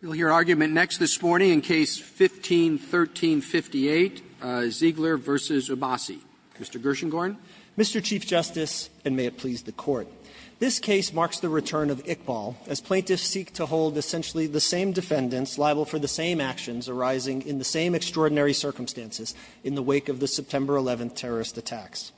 You'll hear argument next this morning in Case 15-1358, Ziegler v. Abbasi. Mr. Gershengorn. Mr. Chief Justice, and may it please the Court. This case marks the return of Iqbal, as plaintiffs seek to hold essentially the same defendants liable for the same actions arising in the same extraordinary circumstances in the wake of the September 11th terrorist attacks.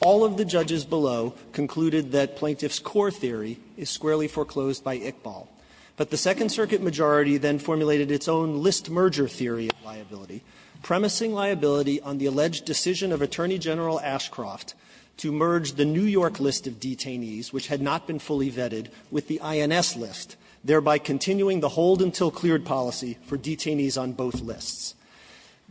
All of the judges below concluded that plaintiffs' core theory is squarely foreclosed by Iqbal. But the Second Circuit majority then formulated its own list-merger theory of liability, premising liability on the alleged decision of Attorney General Ashcroft to merge the New York list of detainees, which had not been fully vetted, with the INS list, thereby continuing the hold-until-cleared policy for detainees on both lists.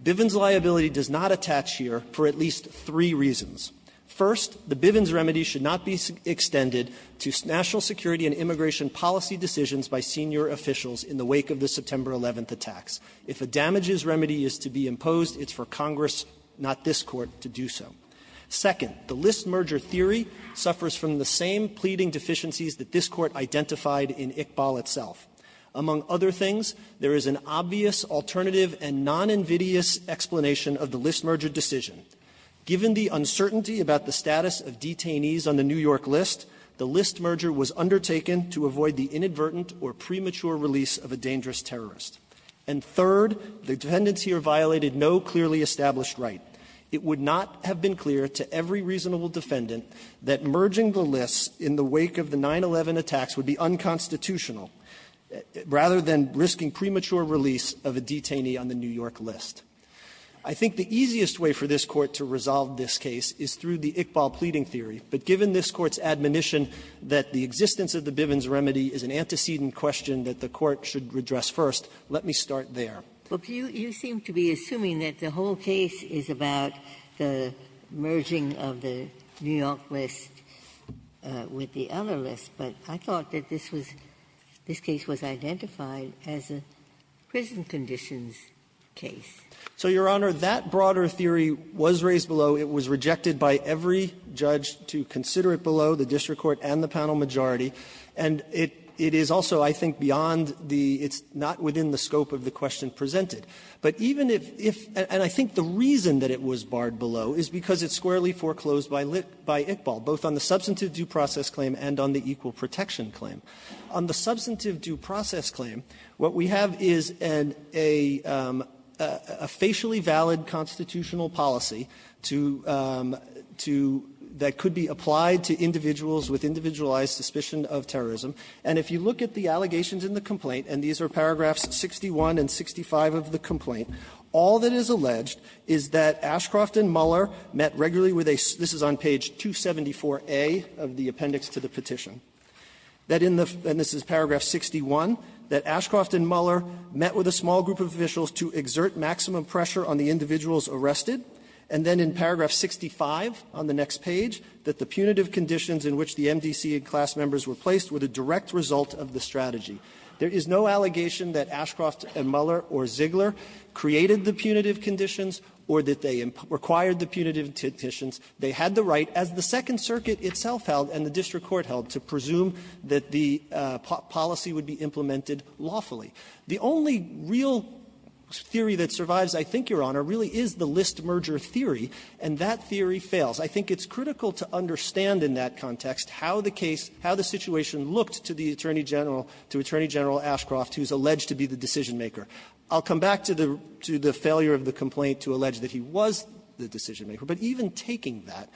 Bivens' liability does not attach here for at least three reasons. First, the Bivens remedy should not be extended to national security and immigration policy decisions by senior officials in the wake of the September 11th attacks. If a damages remedy is to be imposed, it's for Congress, not this Court, to do so. Second, the list-merger theory suffers from the same pleading deficiencies that this Court identified in Iqbal itself. Among other things, there is an obvious alternative and noninvidious explanation of the list-merger decision. Given the uncertainty about the status of detainees on the New York list, the list merger was undertaken to avoid the inadvertent or premature release of a dangerous terrorist. And third, the defendants here violated no clearly established right. It would not have been clear to every reasonable defendant that merging the lists in the wake of the 9-11 attacks would be unconstitutional, rather than risking premature release of a detainee on the New York list. I think the easiest way for this Court to resolve this case is through the Iqbal admonition that the existence of the Bivens remedy is an antecedent question that the Court should redress first. Let me start there. Ginsburg. You seem to be assuming that the whole case is about the merging of the New York list with the other list, but I thought that this was this case was identified as a prison conditions case. So, Your Honor, that broader theory was raised below. It was rejected by every judge to consider it below, the district court and the panel majority, and it is also, I think, beyond the – it's not within the scope of the question presented. But even if – and I think the reason that it was barred below is because it's squarely foreclosed by Iqbal, both on the substantive due process claim and on the equal protection claim. On the substantive due process claim, what we have is a facially valid constitutional policy to – to – that could be applied to individuals with individualized suspicion of terrorism. And if you look at the allegations in the complaint, and these are paragraphs 61 and 65 of the complaint, all that is alleged is that Ashcroft and Muller met regularly with a – this is on page 274A of the appendix to the petition – that in the – and this is paragraph 61 – that Ashcroft and Muller met with a small group of officials to exert maximum pressure on the individuals arrested. And then in paragraph 65 on the next page, that the punitive conditions in which the MDC and class members were placed were the direct result of the strategy. There is no allegation that Ashcroft and Muller or Ziegler created the punitive conditions or that they required the punitive conditions. They had the right, as the Second Circuit itself held and the district court held, to presume that the policy would be implemented lawfully. The only real theory that survives, I think, Your Honor, really is the list merger theory, and that theory fails. I think it's critical to understand in that context how the case – how the situation looked to the Attorney General – to Attorney General Ashcroft, who's alleged to be the decisionmaker. I'll come back to the – to the failure of the complaint to allege that he was the decisionmaker, but even taking that,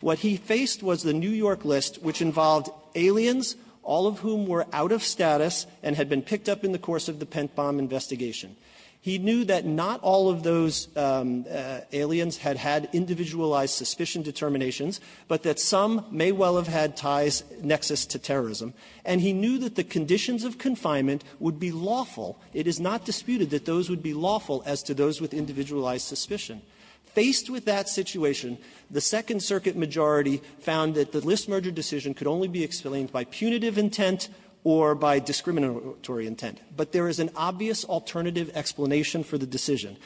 what he faced was the New York list, which involved aliens, all of whom were out of status and had been picked up in the course of the pent-bomb investigation. He knew that not all of those aliens had had individualized suspicion determinations, but that some may well have had ties nexus to terrorism. And he knew that the conditions of confinement would be lawful. It is not disputed that those would be lawful as to those with individualized suspicion. Faced with that situation, the Second Circuit majority found that the list merger decision could only be explained by punitive intent or by discriminatory intent. But there is an obvious alternative explanation for the decision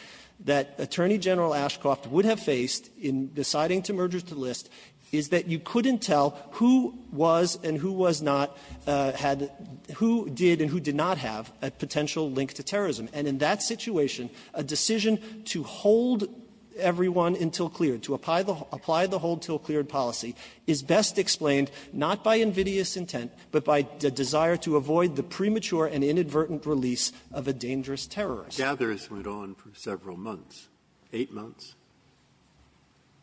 that Attorney General Ashcroft would have faced in deciding to merger the list is that you couldn't tell who was and who was not had – who did and who did not have a potential link to terrorism. And in that situation, a decision to hold everyone until cleared, to apply the – apply the hold until cleared policy is best explained not by invidious release of a dangerous terrorist. Breyer. Gathers went on for several months, eight months.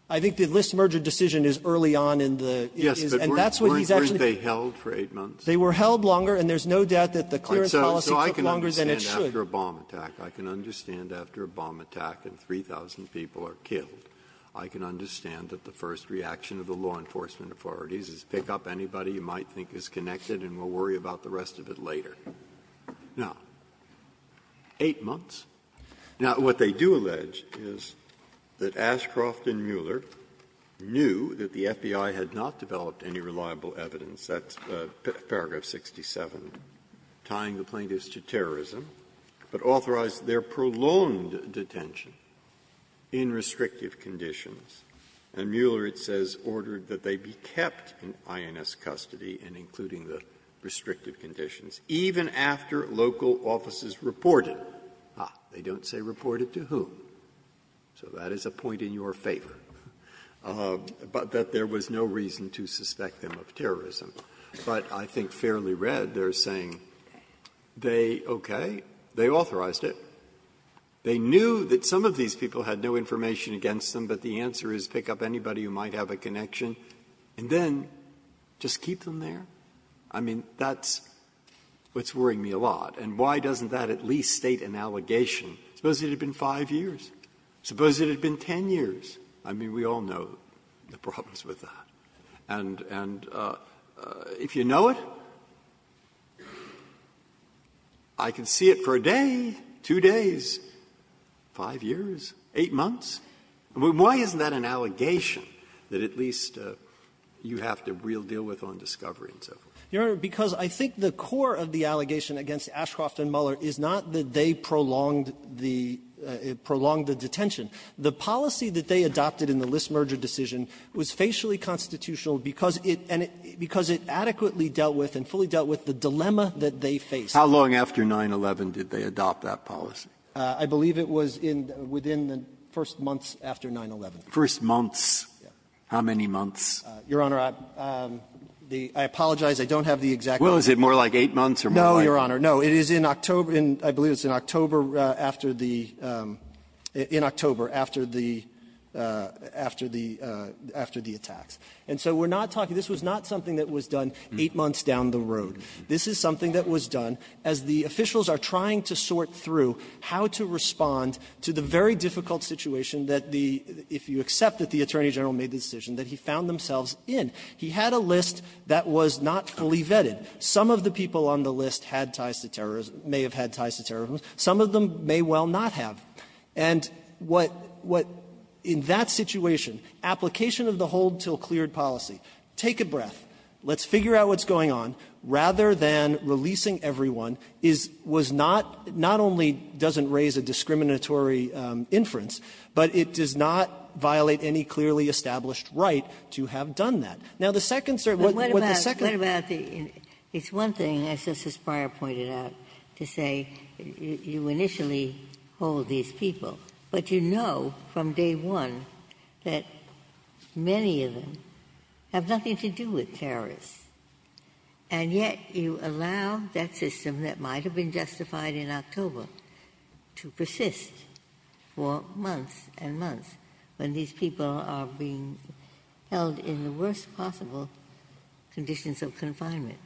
I think the list merger decision is early on in the – it is. Yes, but weren't – weren't they held for eight months? They were held longer, and there's no doubt that the clearance policy took longer than it should. So I can understand after a bomb attack. I can understand after a bomb attack and 3,000 people are killed. I can understand that the first reaction of the law enforcement authorities is pick up anybody you might think is connected and we'll worry about the rest of it later. Now, eight months. Now, what they do allege is that Ashcroft and Mueller knew that the FBI had not developed any reliable evidence. That's paragraph 67, tying the plaintiffs to terrorism, but authorized their prolonged detention in restrictive conditions. And Mueller, it says, ordered that they be kept in INS custody and including the restrictive conditions, even after local offices reported. Ah, they don't say reported to whom. So that is a point in your favor, but that there was no reason to suspect them of terrorism. But I think fairly read, they're saying they – okay, they authorized it. They knew that some of these people had no information against them, but the answer is pick up anybody who might have a connection and then just keep them there. I mean, that's what's worrying me a lot. And why doesn't that at least state an allegation? Suppose it had been five years. Suppose it had been ten years. I mean, we all know the problems with that. And if you know it, I can see it for a day, two days, five years, eight months. I mean, why isn't that an allegation that at least you have to real deal with on discovery and so forth? You know, Your Honor, because I think the core of the allegation against Ashcroft and Mueller is not that they prolonged the – prolonged the detention. The policy that they adopted in the List merger decision was facially constitutional because it adequately dealt with and fully dealt with the dilemma that they faced. How long after 9-11 did they adopt that policy? I believe it was in – within the first months after 9-11. First months? Yes. How many months? Your Honor, the – I apologize. I don't have the exact number. Well, is it more like eight months or more like – No, Your Honor. No. It is in October. I believe it's in October after the – in October after the – after the attacks. And so we're not talking – this was not something that was done eight months down the road. This is something that was done as the officials are trying to sort through how to respond to the very difficult situation that the – if you accept that the Attorney General made the decision that he found themselves in. He had a list that was not fully vetted. Some of the people on the list had ties to terrorism – may have had ties to terrorism. Some of them may well not have. And what – what in that situation, application of the hold till cleared policy. Take a breath. Let's figure out what's going on. Rather than releasing everyone is – was not – not only doesn't raise a discriminatory inference, but it does not violate any clearly established right to have done that. Now, the second – What about – what about the – it's one thing, as Justice Breyer pointed out, to say you initially hold these people, but you know from day one that many of them have nothing to do with terrorists. And yet, you allow that system that might have been justified in October to persist for months and months when these people are being held in the worst possible conditions of confinement.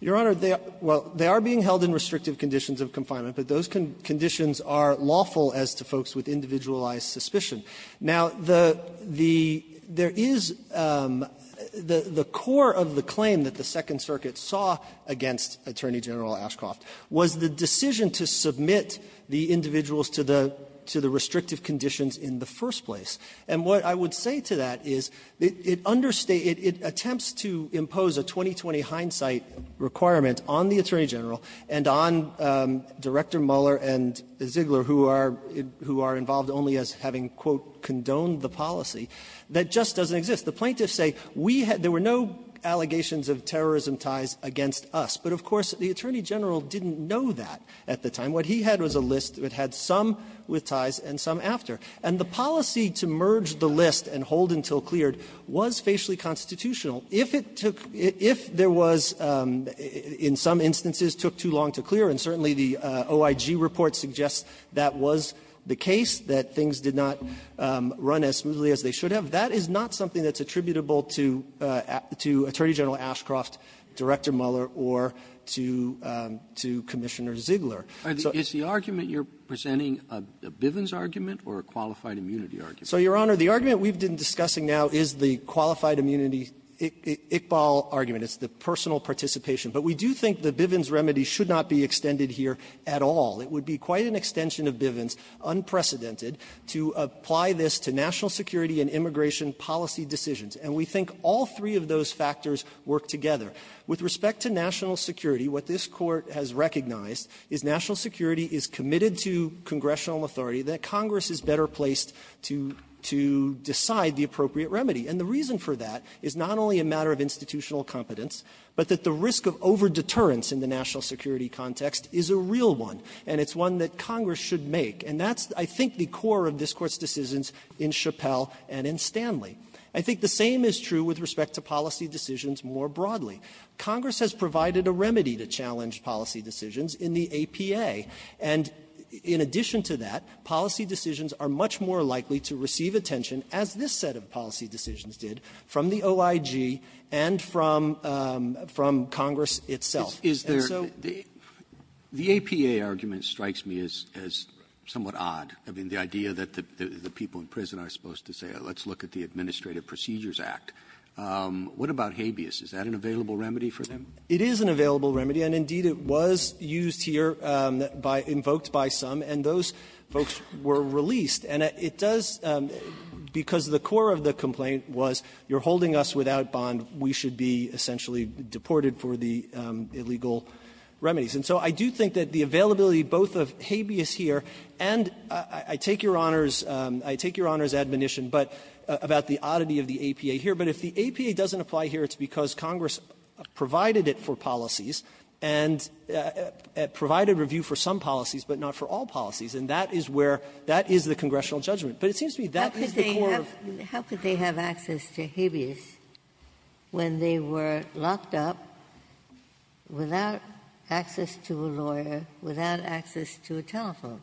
Your Honor, they are – well, they are being held in restrictive conditions of confinement, but those conditions are lawful as to folks with individualized suspicion. Now, the – the – there is – the core of the claim that the Second Circuit saw against Attorney General Ashcroft was the decision to submit the individuals to the – to the restrictive conditions in the first place. And what I would say to that is it understated – it attempts to impose a 20-20 hindsight requirement on the Attorney General and on Director Mueller and Ziegler, who are – who are involved only as having, quote, condoned the policy, that just doesn't exist. The plaintiffs say we had – there were no allegations of terrorism ties against us. But, of course, the Attorney General didn't know that at the time. What he had was a list. It had some with ties and some after. And the policy to merge the list and hold until cleared was facially constitutional. If it took – if there was – in some instances took too long to clear, and certainly the OIG report suggests that was the case, that things did not run as smoothly as they should have, that is not something that's attributable to – to Attorney General Ashcroft, Director Mueller, or to – to Commissioner Ziegler. So the argument you're presenting, a Bivens argument or a qualified immunity argument? So, Your Honor, the argument we've been discussing now is the qualified immunity Iqbal argument. It's the personal participation. But we do think the Bivens remedy should not be extended here at all. It would be quite an extension of Bivens, unprecedented, to apply this to national security and immigration policy decisions. And we think all three of those factors work together. With respect to national security, what this Court has recognized is national security is committed to congressional authority, that Congress is better placed to – to decide the appropriate remedy. And the reason for that is not only a matter of institutional competence, but that the risk of over-deterrence in the national security context is a real one, and it's one that Congress should make. And that's, I think, the core of this Court's decisions in Chappelle and in Stanley. I think the same is true with respect to policy decisions more broadly. Congress has provided a remedy to challenge policy decisions in the APA. And in addition to that, policy decisions are much more likely to receive attention, as this set of policy decisions did, from the OIG and from – from Congress itself. And so the APA argument strikes me as – as somewhat odd. I mean, the idea that the people in prison are supposed to say, let's look at the Administrative Procedures Act. What about habeas? Is that an available remedy for them? It is an available remedy, and indeed it was used here by – invoked by some, and those folks were released. And it does – because the core of the complaint was you're holding us without bond, we should be essentially deported for the illegal remedies. And so I do think that the availability both of habeas here, and I take Your Honor's – I take Your Honor's admonition, but – about the oddity of the APA here. But if the APA doesn't apply here, it's because Congress provided it for policies and provided review for some policies, but not for all policies. And that is where – that is the congressional judgment. But it seems to me that is the core of the question. Ginsburg's question was, why were they released to habeas when they were locked up without access to a lawyer, without access to a telephone?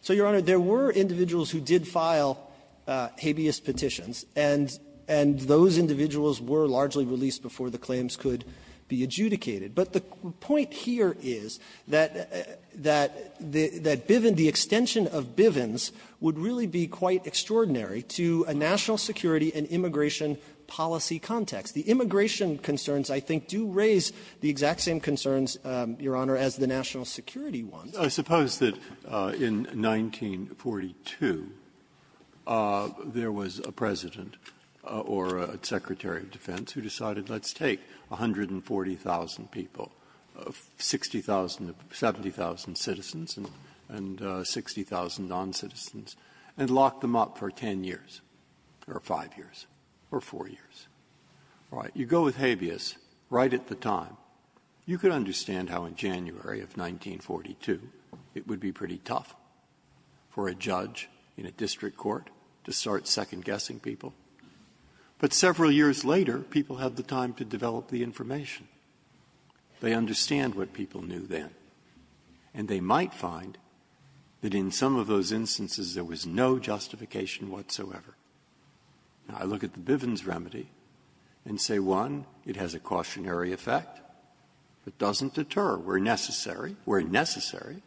So, Your Honor, there were individuals who did file habeas petitions, and – and those individuals were largely released before the claims could be adjudicated. But the point here is that – that Bivens – the extension of Bivens would really be quite extraordinary to a national security and immigration policy context. The immigration concerns, I think, do raise the exact same concerns, Your Honor, as the national security ones. Breyer. I suppose that in 1942, there was a President or a Secretary of Defense who decided, let's take 140,000 people, 60,000 – 70,000 citizens and 60,000 noncitizens, and lock them up for 10 years, or 5 years, or 4 years. All right. You go with habeas right at the time. You can understand how in January of 1942, it would be pretty tough for a judge in a district court to start second-guessing people. But several years later, people have the time to develop the information. They understand what people knew then. And they might find that in some of those instances, there was no justification whatsoever. Now, I look at the Bivens remedy and say, one, it has a cautionary effect. It doesn't deter where necessary, where necessary.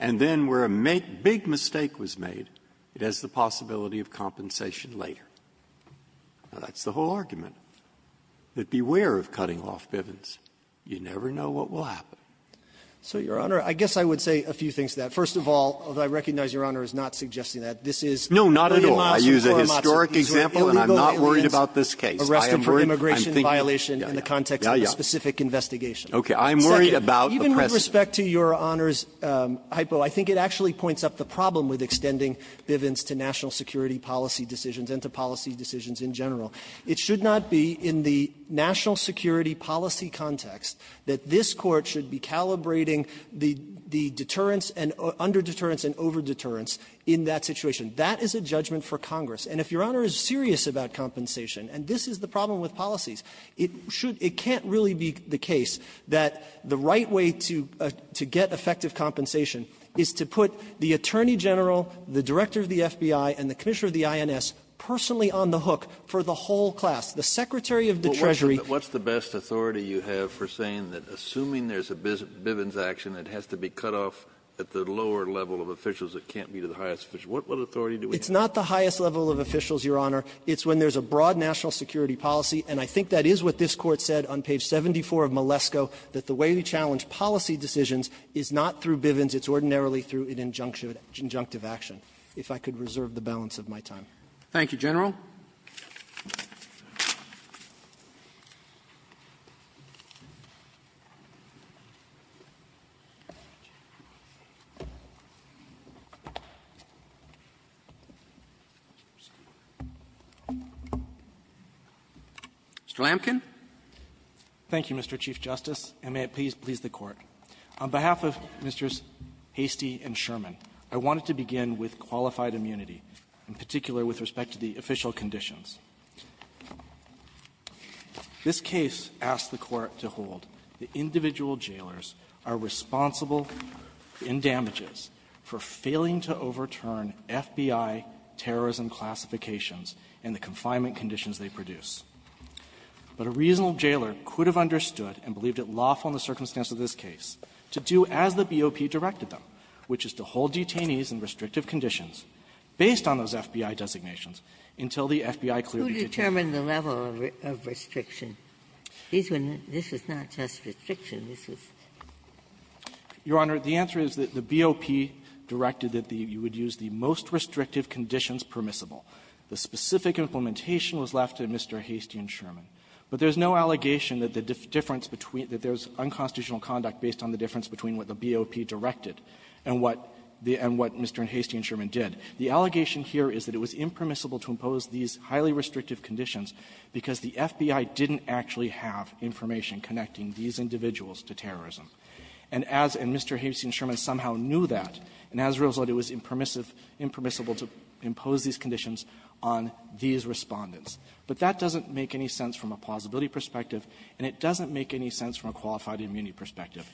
And then where a big mistake was made, it has the possibility of compensation later. Now, that's the whole argument. But beware of cutting off Bivens. You never know what will happen. So, Your Honor, I guess I would say a few things to that. First of all, although I recognize Your Honor is not suggesting that, this is illegal immigration violation in the context of a specific investigation. No, not at all. I use a historic example, and I'm not worried about this case. I am worried. I'm thinking. Yeah, yeah. Okay. I'm worried about the precedent. Even with respect to Your Honor's hypo, I think it actually points up the problem with extending Bivens to national security policy decisions and to policy decisions in general. It should not be in the national security policy context that this Court should be calibrating the deterrence and under-deterrence and over-deterrence in that situation. That is a judgment for Congress. And if Your Honor is serious about compensation, and this is the problem with policies, it should be, it can't really be the case that the right way to get effective compensation is to put the Attorney General, the Director of the FBI, and the Commissioner of the INS personally on the hook for the whole class. The Secretary of the Treasury ---- of Bivens action, it has to be cut off at the lower level of officials. It can't be to the highest officials. What authority do we have? It's not the highest level of officials, Your Honor. It's when there's a broad national security policy. And I think that is what this Court said on page 74 of Malesko, that the way we challenge policy decisions is not through Bivens. It's ordinarily through an injunctive action. If I could reserve the balance of my time. Roberts. Thank you, General. Mr. Lamken. Lamken. Thank you, Mr. Chief Justice, and may it please the Court. On behalf of Mr. Hastey and Sherman, I wanted to begin with qualified immunity, in particular with respect to the official conditions. This case asks the Court to hold that individual jailers are responsible in damages for failing to overturn FBI terrorism classifications and the confinement conditions they produce. But a reasonable jailer could have understood and believed it lawful in the circumstance of this case to do as the BOP directed them, which is to hold detainees in restrictive conditions based on those FBI designations until the FBI clearly determined the level of restriction. This is not just restriction. This is the BOP directed that you would use the most restrictive conditions permissible. The specific implementation was left to Mr. Hastey and Sherman. But there's no allegation that the difference between the unconstitutional conduct based on the difference between what the BOP directed and what the Mr. Hastey and Sherman did. The allegation here is that it was impermissible to impose these highly restrictive conditions because the FBI didn't actually have information connecting these individuals to terrorism. And as Mr. Hastey and Sherman somehow knew that, and as a result, it was impermissive, impermissible to impose these conditions from a plausibility perspective, and it doesn't make any sense from a qualified immunity perspective.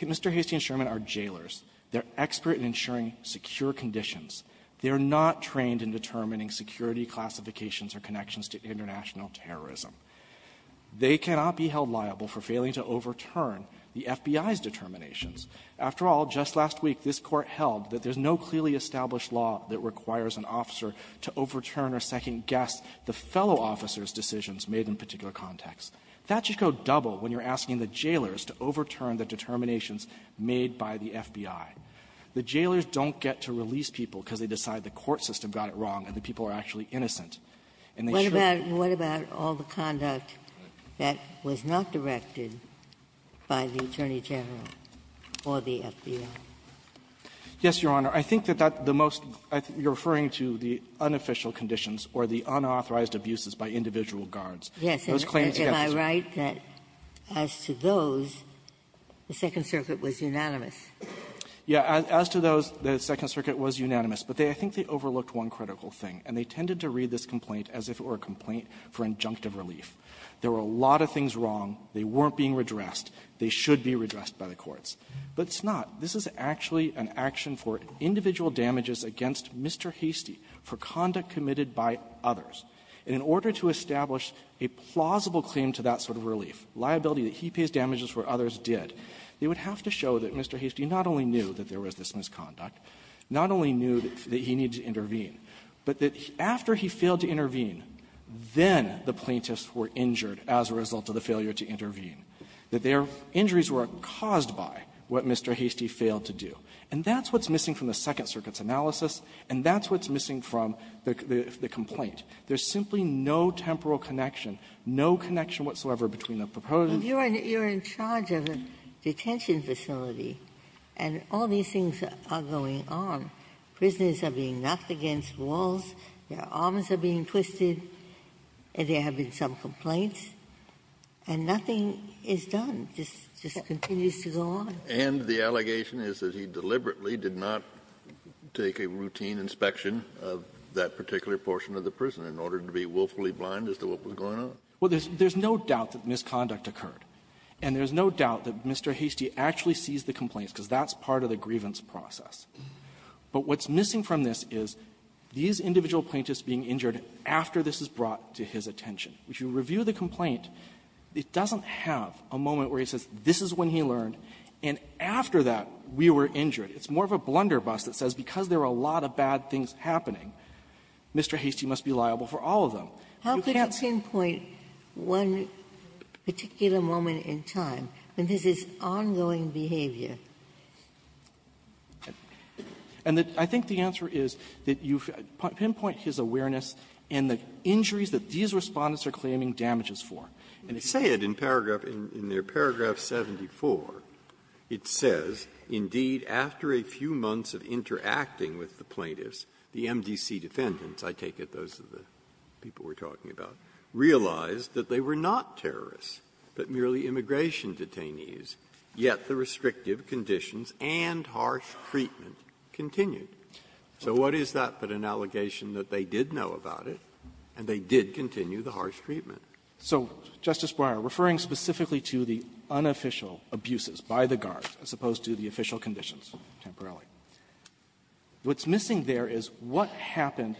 Mr. Hastey and Sherman are jailers. They're expert in ensuring secure conditions. They're not trained in determining security classifications or connections to international terrorism. They cannot be held liable for failing to overturn the FBI's determinations. After all, just last week, this Court held that there's no clearly established law that requires an officer to overturn or second-guess the fellow officer's decisions made in a particular context. That should go double when you're asking the jailers to overturn the determinations made by the FBI. The jailers don't get to release people because they decide the court system got it wrong and the people are actually innocent, and they should be. Ginsburg. What about all the conduct that was not directed by the Attorney General or the FBI? Hastey. Hastey. Yes, Your Honor. I think that that the most you're referring to the unofficial conditions or the unauthorized abuses by individual guards. Those claims, yes. Ginsburg. Yes. Am I right that as to those, the Second Circuit was unanimous? Hastey. Yeah. As to those, the Second Circuit was unanimous. But they – I think they overlooked one critical thing, and they tended to read this complaint as if it were a complaint for injunctive relief. There were a lot of things wrong. They weren't being redressed. They should be redressed by the courts. But it's not. This is actually an action for individual damages against Mr. Hastey for conduct committed by others. And in order to establish a plausible claim to that sort of relief, liability that he pays damages where others did, they would have to show that Mr. Hastey not only knew that there was this misconduct, not only knew that he needed to intervene, but that after he failed to intervene, then the plaintiffs were injured as a result of the failure to intervene. That their injuries were caused by what Mr. Hastey failed to do. And that's what's missing from the Second Circuit's analysis, and that's what's missing from the complaint. There's simply no temporal connection, no connection whatsoever between the proposed and the proposed. Ginsburg. And you're in charge of a detention facility, and all these things are going on. Prisoners are being knocked against walls. Their arms are being twisted. And they're having some complaints. And nothing is done. It just continues to go on. Kennedy. And the allegation is that he deliberately did not take a routine inspection of that particular portion of the prison in order to be willfully blind as to what was going on? Well, there's no doubt that misconduct occurred. And there's no doubt that Mr. Hastey actually sees the complaints, because that's part of the grievance process. But what's missing from this is these individual plaintiffs being injured after this is brought to his attention. If you review the complaint, it doesn't have a moment where he says this is when he learned, and after that, we were injured. It's more of a blunderbuss that says because there are a lot of bad things happening, Mr. Hastey must be liable for all of them. You can't say that. How could you pinpoint one particular moment in time when this is ongoing behavior? And I think the answer is that you pinpoint his awareness in the injuries that these Respondents are claiming damages for. And if you say it in paragraph 74, it says, indeed, after a few months of interacting with the plaintiffs, the MDC defendants, I take it those are the people we're talking about, realized that they were not terrorists, but merely immigration detainees. Yet the restrictive conditions and harsh treatment continued. So what is that but an allegation that they did know about it, and they did continue the harsh treatment? Fisherman So, Justice Breyer, referring specifically to the unofficial abuses by the guards as opposed to the official conditions temporarily, what's missing there is what happened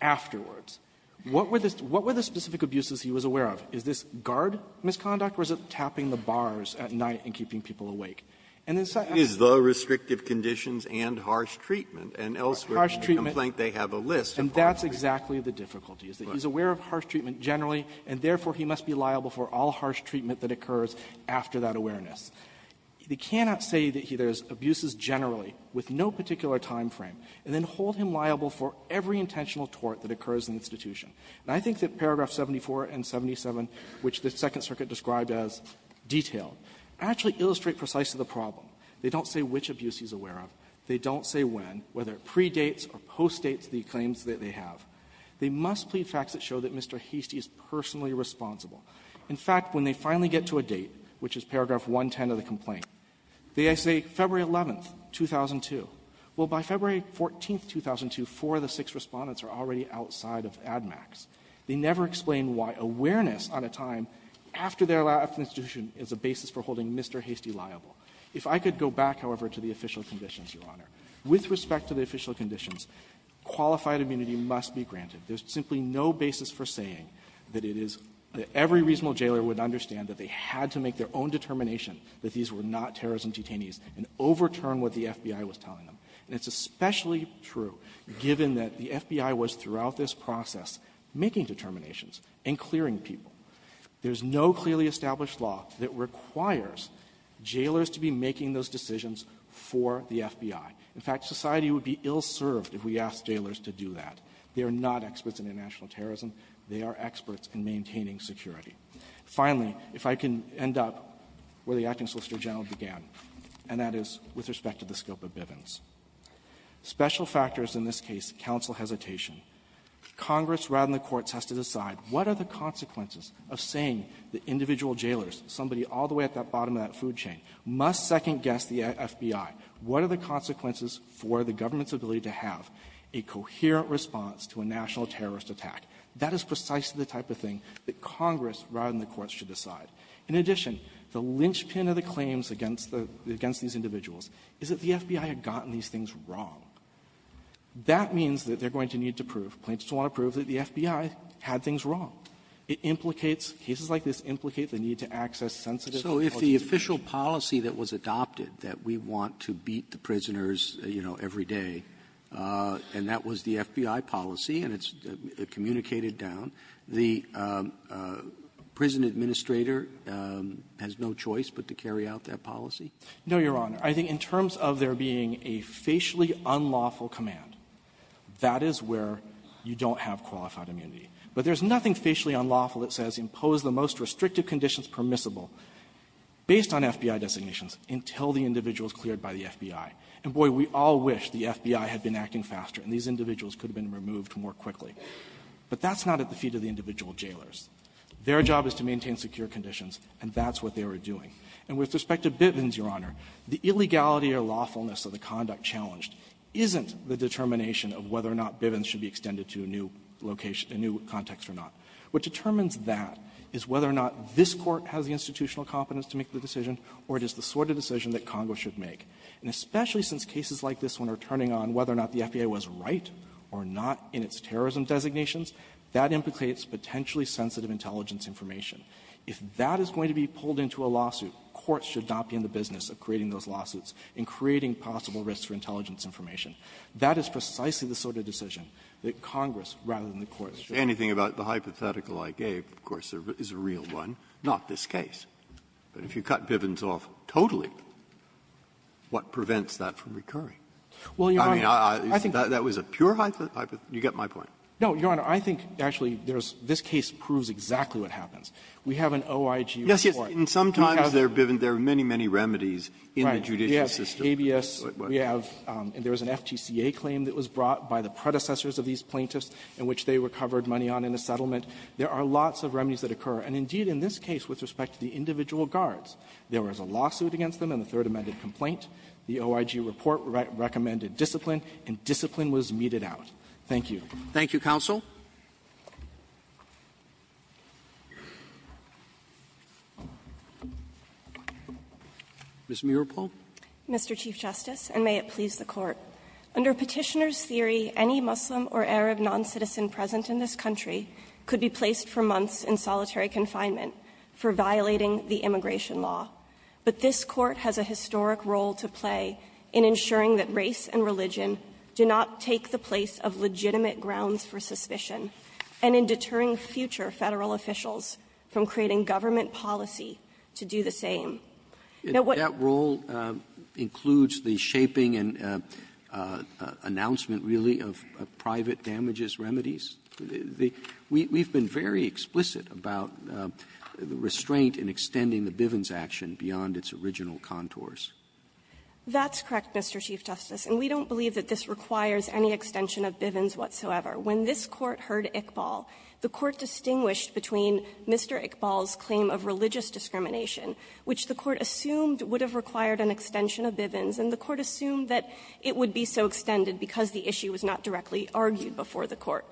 afterwards. What were the specific abuses he was aware of? Is this guard misconduct, or is it tapping the bars at night and keeping people awake? And then the second question is the restrictive conditions and harsh treatment and elsewhere in the complaint, they have a list of all of them. Fisherman And that's exactly the difficulty, is that he's aware of harsh treatment generally, and therefore, he must be liable for all harsh treatment that occurs after that awareness. They cannot say that there's abuses generally with no particular time frame, and then hold him liable for every intentional tort that occurs in the institution. And I think that paragraph 74 and 77, which the Second Circuit described as detailed, actually illustrate precisely the problem. They don't say which abuse he's aware of. They don't say when, whether it predates or postdates the claims that they have. They must plead facts that show that Mr. Heastie is personally responsible. In fact, when they finally get to a date, which is paragraph 110 of the complaint, they say, February 11th, 2002. Well, by February 14th, 2002, four of the six Respondents are already outside of ADMACS. They never explain why awareness on a time after their last institution is a basis for holding Mr. Heastie liable. If I could go back, however, to the official conditions, Your Honor, with respect to the official conditions, qualified immunity must be granted. There's simply no basis for saying that it is that every reasonable jailer would understand that they had to make their own determination that these were not terrorism detainees and overturn what the FBI was telling them. And it's especially true given that the FBI was, throughout this process, making determinations and clearing people. There's no clearly established law that requires jailers to be making those decisions for the FBI. In fact, society would be ill-served if we asked jailers to do that. They are not experts in international terrorism. They are experts in maintaining security. Finally, if I can end up where the acting the scope of Bivens. Special factors in this case, counsel hesitation. Congress, rather than the courts, has to decide what are the consequences of saying that individual jailers, somebody all the way at the bottom of that food chain, must second-guess the FBI. What are the consequences for the government's ability to have a coherent response to a national terrorist attack? That is precisely the type of thing that Congress, rather than the courts, should decide. In addition, the linchpin of the claims against the -- against these individuals is that the FBI had gotten these things wrong. That means that they're going to need to prove, claim to want to prove, that the FBI had things wrong. It implicates, cases like this implicate the need to access sensitive legislation. Robertson, so if the official policy that was adopted, that we want to beat the prisoners, you know, every day, and that was the FBI policy, and it's communicated down, the prison administrator has no choice but to carry out that policy? No, Your Honor. I think in terms of there being a facially unlawful command, that is where you don't have qualified immunity. But there's nothing facially unlawful that says impose the most restrictive conditions permissible, based on FBI designations, until the individual is cleared by the FBI. And, boy, we all wish the FBI had been acting faster, and these individuals could have been removed more quickly. But that's not at the feet of the individual jailers. Their job is to maintain secure conditions, and that's what they were doing. And with respect to Bivens, Your Honor, the illegality or lawfulness of the conduct challenged isn't the determination of whether or not Bivens should be extended to a new location, a new context or not. What determines that is whether or not this Court has the institutional competence to make the decision, or it is the sort of decision that Congress should make. And especially since cases like this one are turning on whether or not the FBI was right or not in its terrorism designations, that implicates potentially sensitive intelligence information. If that is going to be pulled into a lawsuit, courts should not be in the business of creating those lawsuits and creating possible risks for intelligence information. That is precisely the sort of decision that Congress, rather than the courts, should make. Breyer, anything about the hypothetical I gave, of course, is a real one, not this case. But if you cut Bivens off totally, what prevents that from recurring? I mean, that was a pure hypothetical? You get my point. No, Your Honor. I think, actually, there's this case proves exactly what happens. We have an OIG report. And sometimes there are Bivens. There are many, many remedies in the judicial system. Right. We have ABS. We have and there was an FTCA claim that was brought by the predecessors of these plaintiffs in which they were covered money on in a settlement. There are lots of remedies that occur. And, indeed, in this case, with respect to the individual guards, there was a lawsuit against them in the Third Amendment complaint. The OIG report recommended discipline, and discipline was meted out. Thank you. Thank you, counsel. Ms. Muropol. Mr. Chief Justice, and may it please the Court. Under Petitioner's theory, any Muslim or Arab noncitizen present in this country could be placed for months in solitary confinement for violating the immigration law. But this Court has a historic role to play in ensuring that race and religion do not take the place of legitimate grounds for suspicion, and in deterring future Federal officials from creating government policy to do the same. Now, what the role includes the shaping and announcement, really, of private damages remedies? The we've been very explicit about the restraint in extending the Bivens action beyond its original contours. That's correct, Mr. Chief Justice. And we don't believe that this requires any extension of Bivens whatsoever. When this Court heard Iqbal, the Court distinguished between Mr. Iqbal's claim of religious discrimination, which the Court assumed would have required an extension of Bivens, and the Court assumed that it would be so extended because the issue was not directly argued before the Court.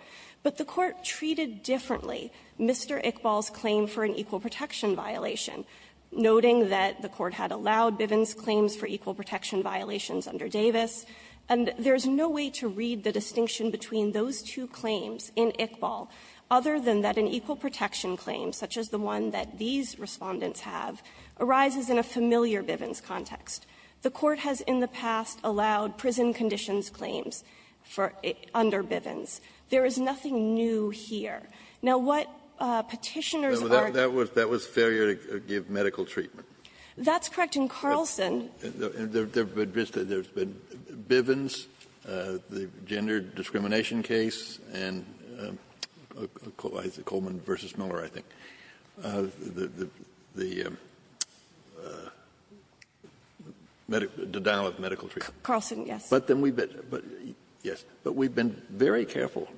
But the Court treated differently Mr. Iqbal's claim for an equal protection violation, noting that the Court had allowed Bivens claims for equal protection violations under Davis, and there's no way to read the distinction between those two claims in Iqbal other than that an equal protection claim, such as the one that these Respondents have, arises in a familiar Bivens context. The Court has in the Bivens. There is nothing new here. Now, what Petitioners are going to do is to go back to the Bivens case. That was failure to give medical treatment. That's correct. In Carlson the Bivens, the gender discrimination case, and Coleman v. Miller, I think. The denial of medical treatment. Carlson, yes. But then we've been very careful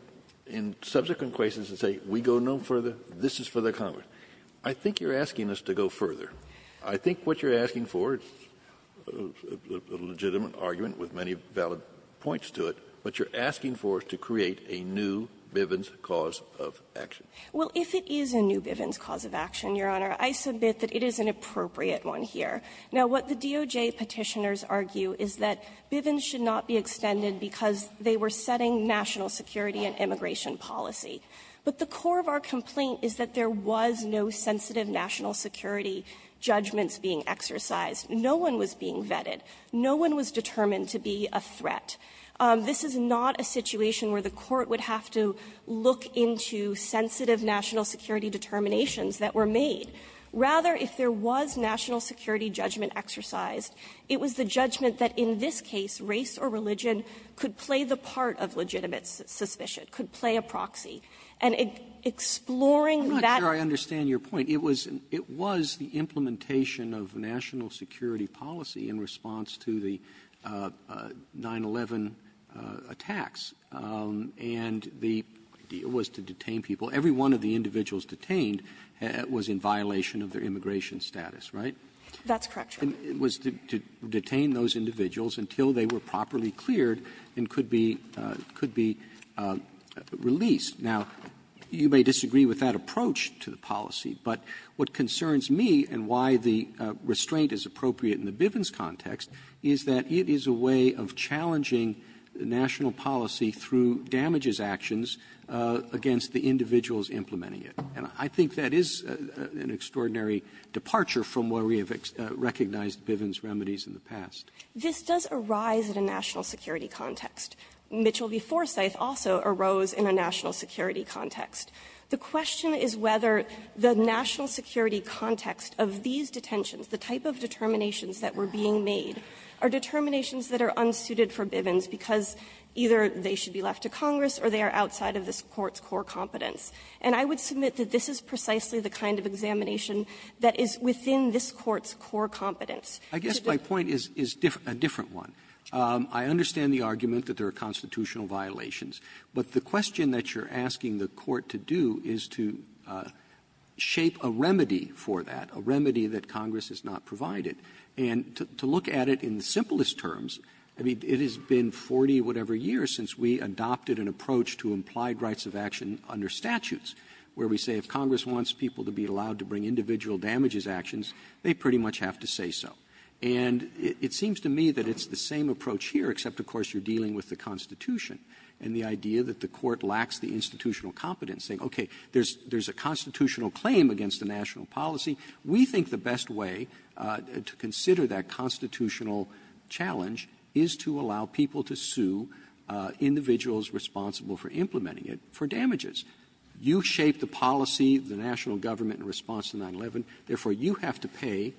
in subsequent cases to say we go no further. This is for the Congress. I think you're asking us to go further. I think what you're asking for is a legitimate argument with many valid points to it. What you're asking for is to create a new Bivens cause of action. Well, if it is a new Bivens cause of action, Your Honor, I submit that it is an appropriate one here. Now, what the DOJ Petitioners argue is that Bivens should not be extended because they were setting national security and immigration policy. But the core of our complaint is that there was no sensitive national security judgments being exercised. No one was being vetted. No one was determined to be a threat. This is not a situation where the Court would have to look into sensitive national security determinations that were made. Rather, if there was national security judgment exercised, it was the judgment that in this case race or religion could play the part of legitimate suspicion, could play a proxy. And exploring that ---- Robertson, I'm not sure I understand your point. It was the implementation of national security policy in response to the 9-11 attacks. And the idea was to detain people. Every one of the individuals detained was in violation of their immigration status, right? That's correct, Your Honor. It was to detain those individuals until they were properly cleared and could be ---- could be released. Now, you may disagree with that approach to the policy, but what concerns me and why the restraint is appropriate in the Bivens context is that it is a way of challenging national policy through damages actions against the individual who is implementing it. And I think that is an extraordinary departure from where we have recognized Bivens remedies in the past. This does arise in a national security context. Mitchell v. Forsyth also arose in a national security context. The question is whether the national security context of these detentions, the type of determinations that were being made, are determinations that are unsuited for Bivens because either they should be left to Congress or they are outside of this Court's core competence. And I would submit that this is precisely the kind of examination that is within this Court's core competence. Robertson, I guess my point is a different one. I understand the argument that there are constitutional violations. But the question that you're asking the Court to do is to shape a remedy for that, a remedy that Congress has not provided. And to look at it in the simplest terms, I mean, it has been 40-whatever years since we adopted an approach to implied rights of action under statutes, where we say if Congress wants people to be allowed to bring individual damages actions, they pretty much have to say so. And it seems to me that it's the same approach here, except, of course, you're dealing with the Constitution and the idea that the Court lacks the institutional competence, saying, okay, there's a constitutional claim against a national policy. We think the best way to consider that constitutional challenge is to allow people to sue individuals responsible for implementing it for damages. You shape the policy, the national government, in response to 9-11. Therefore, you have to pay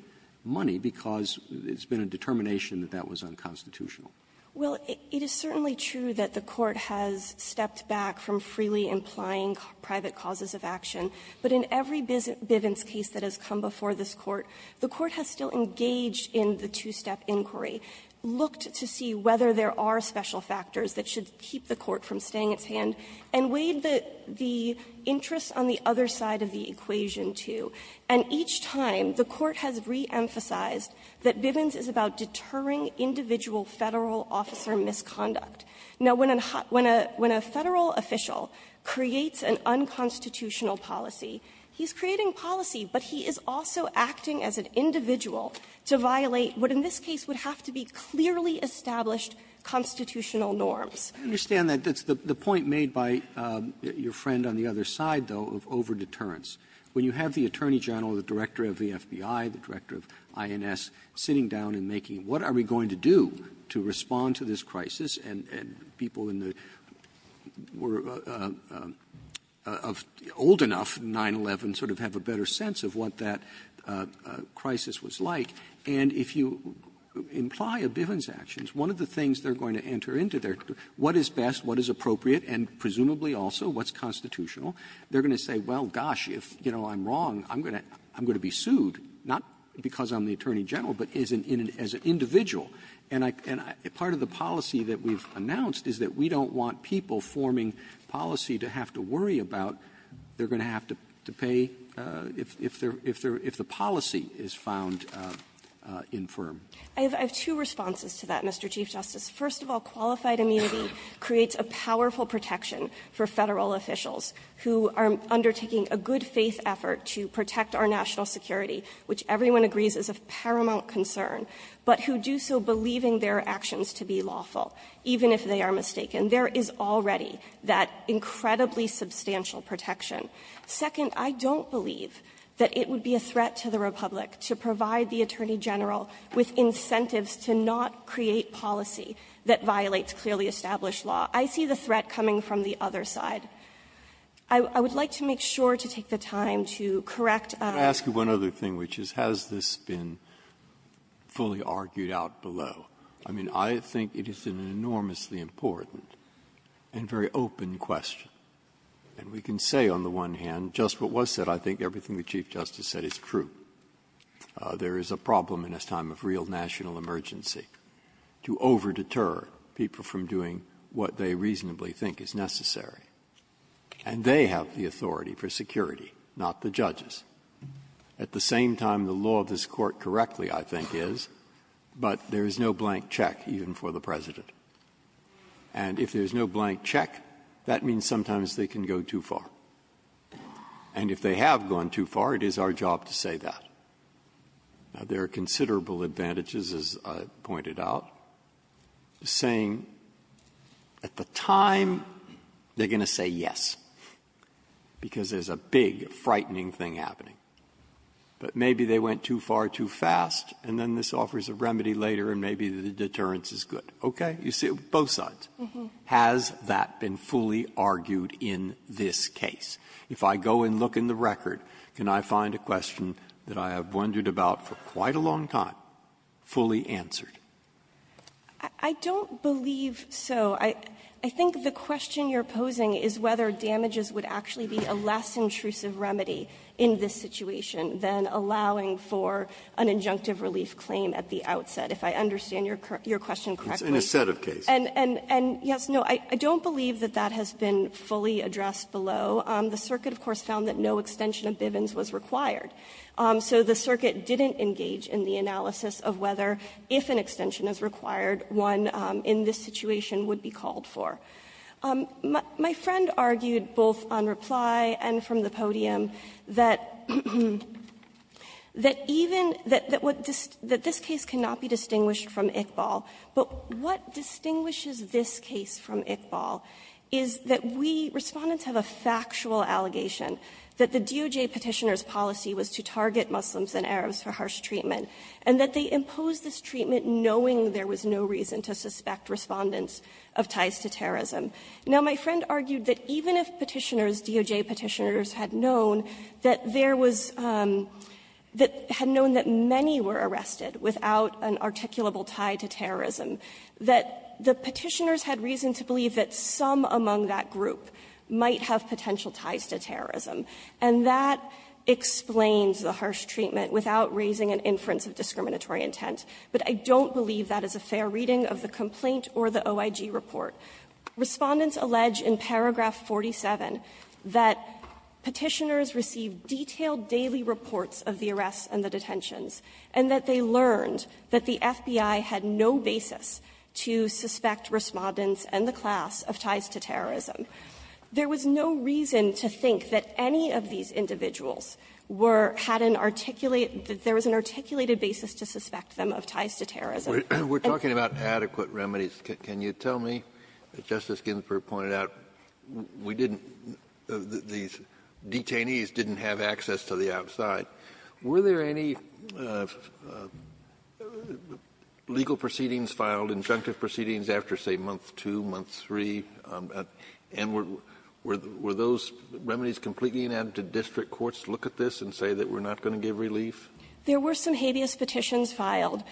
money because it's been a determination that that was unconstitutional. Bivens. Well, it is certainly true that the Court has stepped back from freely implying private causes of action, but in every Bivens case that has come before this Court, the Court has still engaged in the two-step inquiry, looked to see whether there are special factors that should keep the Court from staying at hand, and weighed the interests on the other side of the equation, too. And each time, the Court has reemphasized that Bivens is about deterring individual Federal officer misconduct. Now, when a Federal official creates an unconstitutional policy, he's creating policy, but he is also acting as an individual to violate what in this case would have to be clearly established constitutional norms. Roberts. Roberts. I understand that. That's the point made by your friend on the other side, though, of over-deterrence. When you have the Attorney General, the Director of the FBI, the Director of INS, sitting down and making, what are we going to do to respond to this crisis? And people in the old enough 9-11 sort of have a better sense of what that crisis was like. And if you imply a Bivens action, one of the things they're going to enter into there, what is best, what is appropriate, and presumably also what's constitutional, they're going to say, well, gosh, if, you know, I'm wrong, I'm going to be sued, not because I'm the Attorney General, but as an individual. And part of the policy that we've announced is that we don't want people forming policy to have to worry about they're going to have to pay if the policy is found infirm. I have two responses to that, Mr. Chief Justice. First of all, qualified immunity creates a powerful protection for Federal officials who are undertaking a good-faith effort to protect our national security, which everyone agrees is of paramount concern, but who do so believing their actions to be lawful, even if they are mistaken. There is already that incredibly substantial protection. Second, I don't believe that it would be a threat to the Republic to provide the Attorney General with incentives to not create policy that violates clearly established law. I see the threat coming from the other side. I would like to make sure to take the time to correct. Breyer, I'm going to ask you one other thing, which is, has this been fully argued out below? I mean, I think it is an enormously important and very open question. And we can say on the one hand, just what was said, I think everything the Chief Justice said is true. There is a problem in this time of real national emergency to over-deter people from doing what they reasonably think is necessary. And they have the authority for security, not the judges. At the same time, the law of this Court correctly, I think, is, but there is no blank check even for the President. And if there is no blank check, that means sometimes they can go too far. And if they have gone too far, it is our job to say that. Now, there are considerable advantages, as I pointed out, saying, at the time, they are going to say yes, because there is a big, frightening thing happening. But maybe they went too far too fast, and then this offers a remedy later, and maybe the deterrence is good. Okay? You see it with both sides. Has that been fully argued in this case? If I go and look in the record, can I find a question that I have wondered about for quite a long time, fully answered? I don't believe so. I think the question you are posing is whether damages would actually be a less intrusive remedy in this situation than allowing for an injunctive relief claim at the outset, if I understand your question correctly. And a set of cases. And yes, no, I don't believe that that has been fully addressed below. The circuit, of course, found that no extension of Bivens was required. So the circuit didn't engage in the analysis of whether, if an extension is required, one in this situation would be called for. My friend argued both on reply and from the podium that even the question, that this case cannot be distinguished from Iqbal, but what distinguishes this case from Iqbal is that we, Respondents, have a factual allegation that the DOJ Petitioner's target Muslims and Arabs for harsh treatment, and that they imposed this treatment knowing there was no reason to suspect Respondents of ties to terrorism. Now, my friend argued that even if Petitioner's, DOJ Petitioner's, had known that there was that had known that many were arrested without an articulable tie to terrorism, that the Petitioner's had reason to believe that some among that group might have potential ties to terrorism. And that explains the harsh treatment without raising an inference of discriminatory intent. But I don't believe that is a fair reading of the complaint or the OIG report. Respondents allege in paragraph 47 that Petitioner's received detailed daily reports of the arrests and the detentions, and that they learned that the FBI had no basis to suspect Respondents and the class of ties to terrorism. There was no reason to suspect or to think that any of these individuals were had an articulate that there was an articulated basis to suspect them of ties to terrorism. Kennedy, we're talking about adequate remedies. Can you tell me, as Justice Ginsburg pointed out, we didn't, these detainees didn't have access to the outside. Were there any legal proceedings filed, injunctive proceedings, after, say, month 1, month 2, month 3? And were those remedies completely inadmitted to district courts to look at this and say that we're not going to give relief? There were some habeas petitions filed.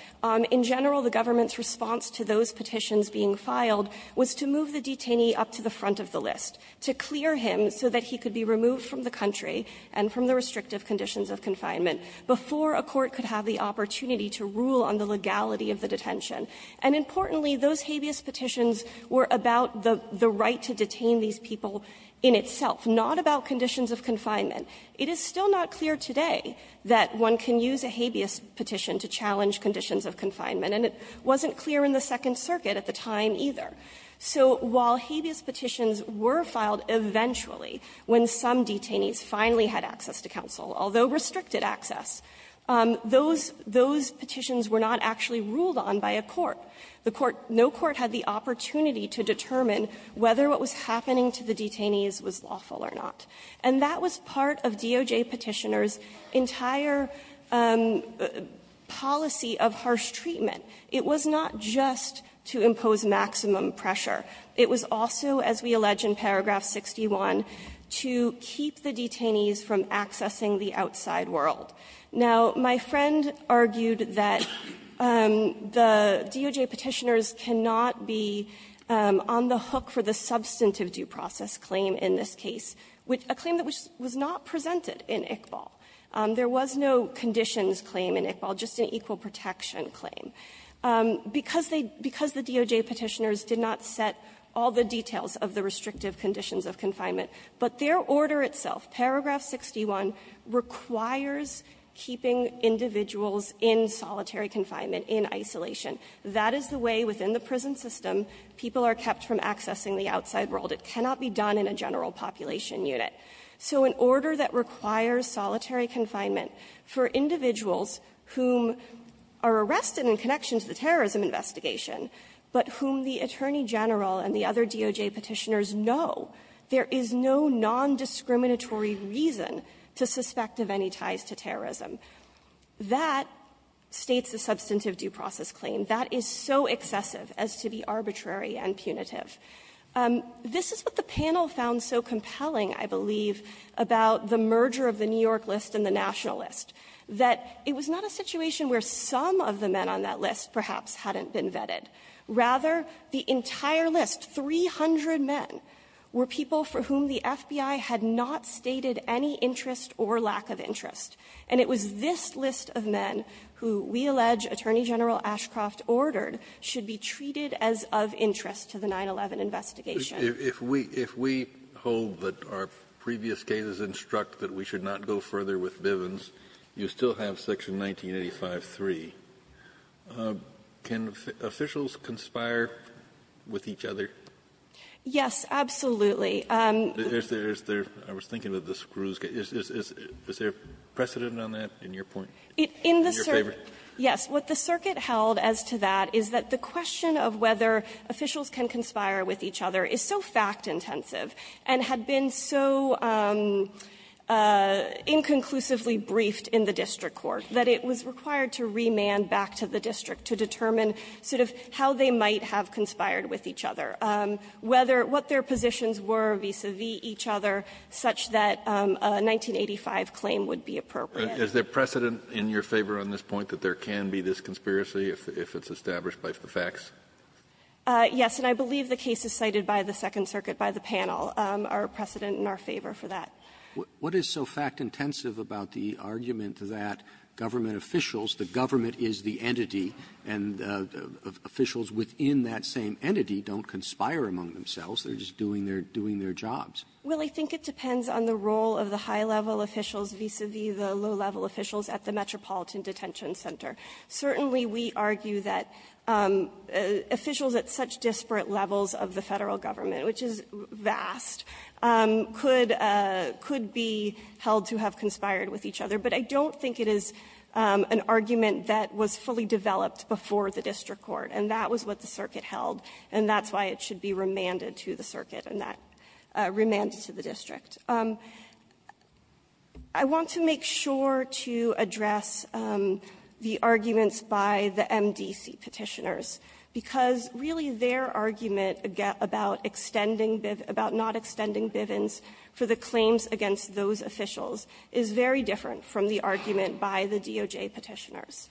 In general, the government's response to those petitions being filed was to move the detainee up to the front of the list, to clear him so that he could be removed from the country and from the restrictive conditions of confinement before a court could have the opportunity to rule on the legality of the detention. And importantly, those habeas petitions were about the right to detain these people in itself, not about conditions of confinement. It is still not clear today that one can use a habeas petition to challenge conditions of confinement, and it wasn't clear in the Second Circuit at the time, either. So while habeas petitions were filed eventually when some detainees finally had access to counsel, although restricted access, those, those petitions were not actually ruled on by a court. The court no court had the opportunity to determine whether what was happening to the detainees was lawful or not. And that was part of DOJ Petitioner's entire policy of harsh treatment. It was not just to impose maximum pressure. It was also, as we allege in paragraph 61, to keep the detainees from accessing the outside world. Now, my friend argued that the DOJ Petitioner's cannot be on the hook for the substantive due process claim in this case, which a claim that was not presented in Iqbal. There was no conditions claim in Iqbal, just an equal protection claim. Because they – because the DOJ Petitioner's did not set all the details of the restrictive conditions of confinement, but their order itself, paragraph 61, requires keeping individuals in solitary confinement, in isolation. That is the way, within the prison system, people are kept from accessing the outside world. It cannot be done in a general population unit. So an order that requires solitary confinement for individuals whom are arrested in connection to the terrorism investigation, but whom the Attorney General and the other DOJ Petitioner's know there is no nondiscriminatory reason to suspect of any ties to terrorism. That states the substantive due process claim. That is so excessive as to be arbitrary and punitive. This is what the panel found so compelling, I believe, about the merger of the New York list and the national list, that it was not a situation where some of the men on that list perhaps hadn't been vetted. Rather, the entire list, 300 men, were people for whom the FBI had not stated any interest or lack of interest. And it was this list of men who we allege Attorney General Ashcroft ordered should be treated as of interest to the 9-11 investigation. Kennedy. Kennedy. If we – if we hold that our previous cases instruct that we should not go further, would the officials conspire with each other? Yes, absolutely. Is there – I was thinking of the screws. Is there precedent on that in your point, in your favor? Yes. What the circuit held as to that is that the question of whether officials can conspire with each other is so fact-intensive and had been so inconclusively briefed in the district court that it was required to remand back to the district to determine sort of how they might have conspired with each other, whether – what their positions were vis-a-vis each other such that a 1985 claim would be appropriate. Is there precedent in your favor on this point that there can be this conspiracy if it's established by the facts? Yes. And I believe the cases cited by the Second Circuit by the panel are precedent in our favor for that. What is so fact-intensive about the argument that government officials, the government is the entity, and officials within that same entity don't conspire among themselves, they're just doing their – doing their jobs? Well, I think it depends on the role of the high-level officials vis-a-vis the low-level officials at the Metropolitan Detention Center. Certainly, we argue that officials at such disparate levels of the Federal government, which is vast, could – could be held to have conspired with each other. But I don't think it is an argument that was fully developed before the district court, and that was what the circuit held, and that's why it should be remanded to the circuit and not remanded to the district. I want to make sure to address the arguments by the MDC Petitioners, because really their argument about extending – about not extending Bivens for the claims against those officials is very different from the argument by the DOJ Petitioners.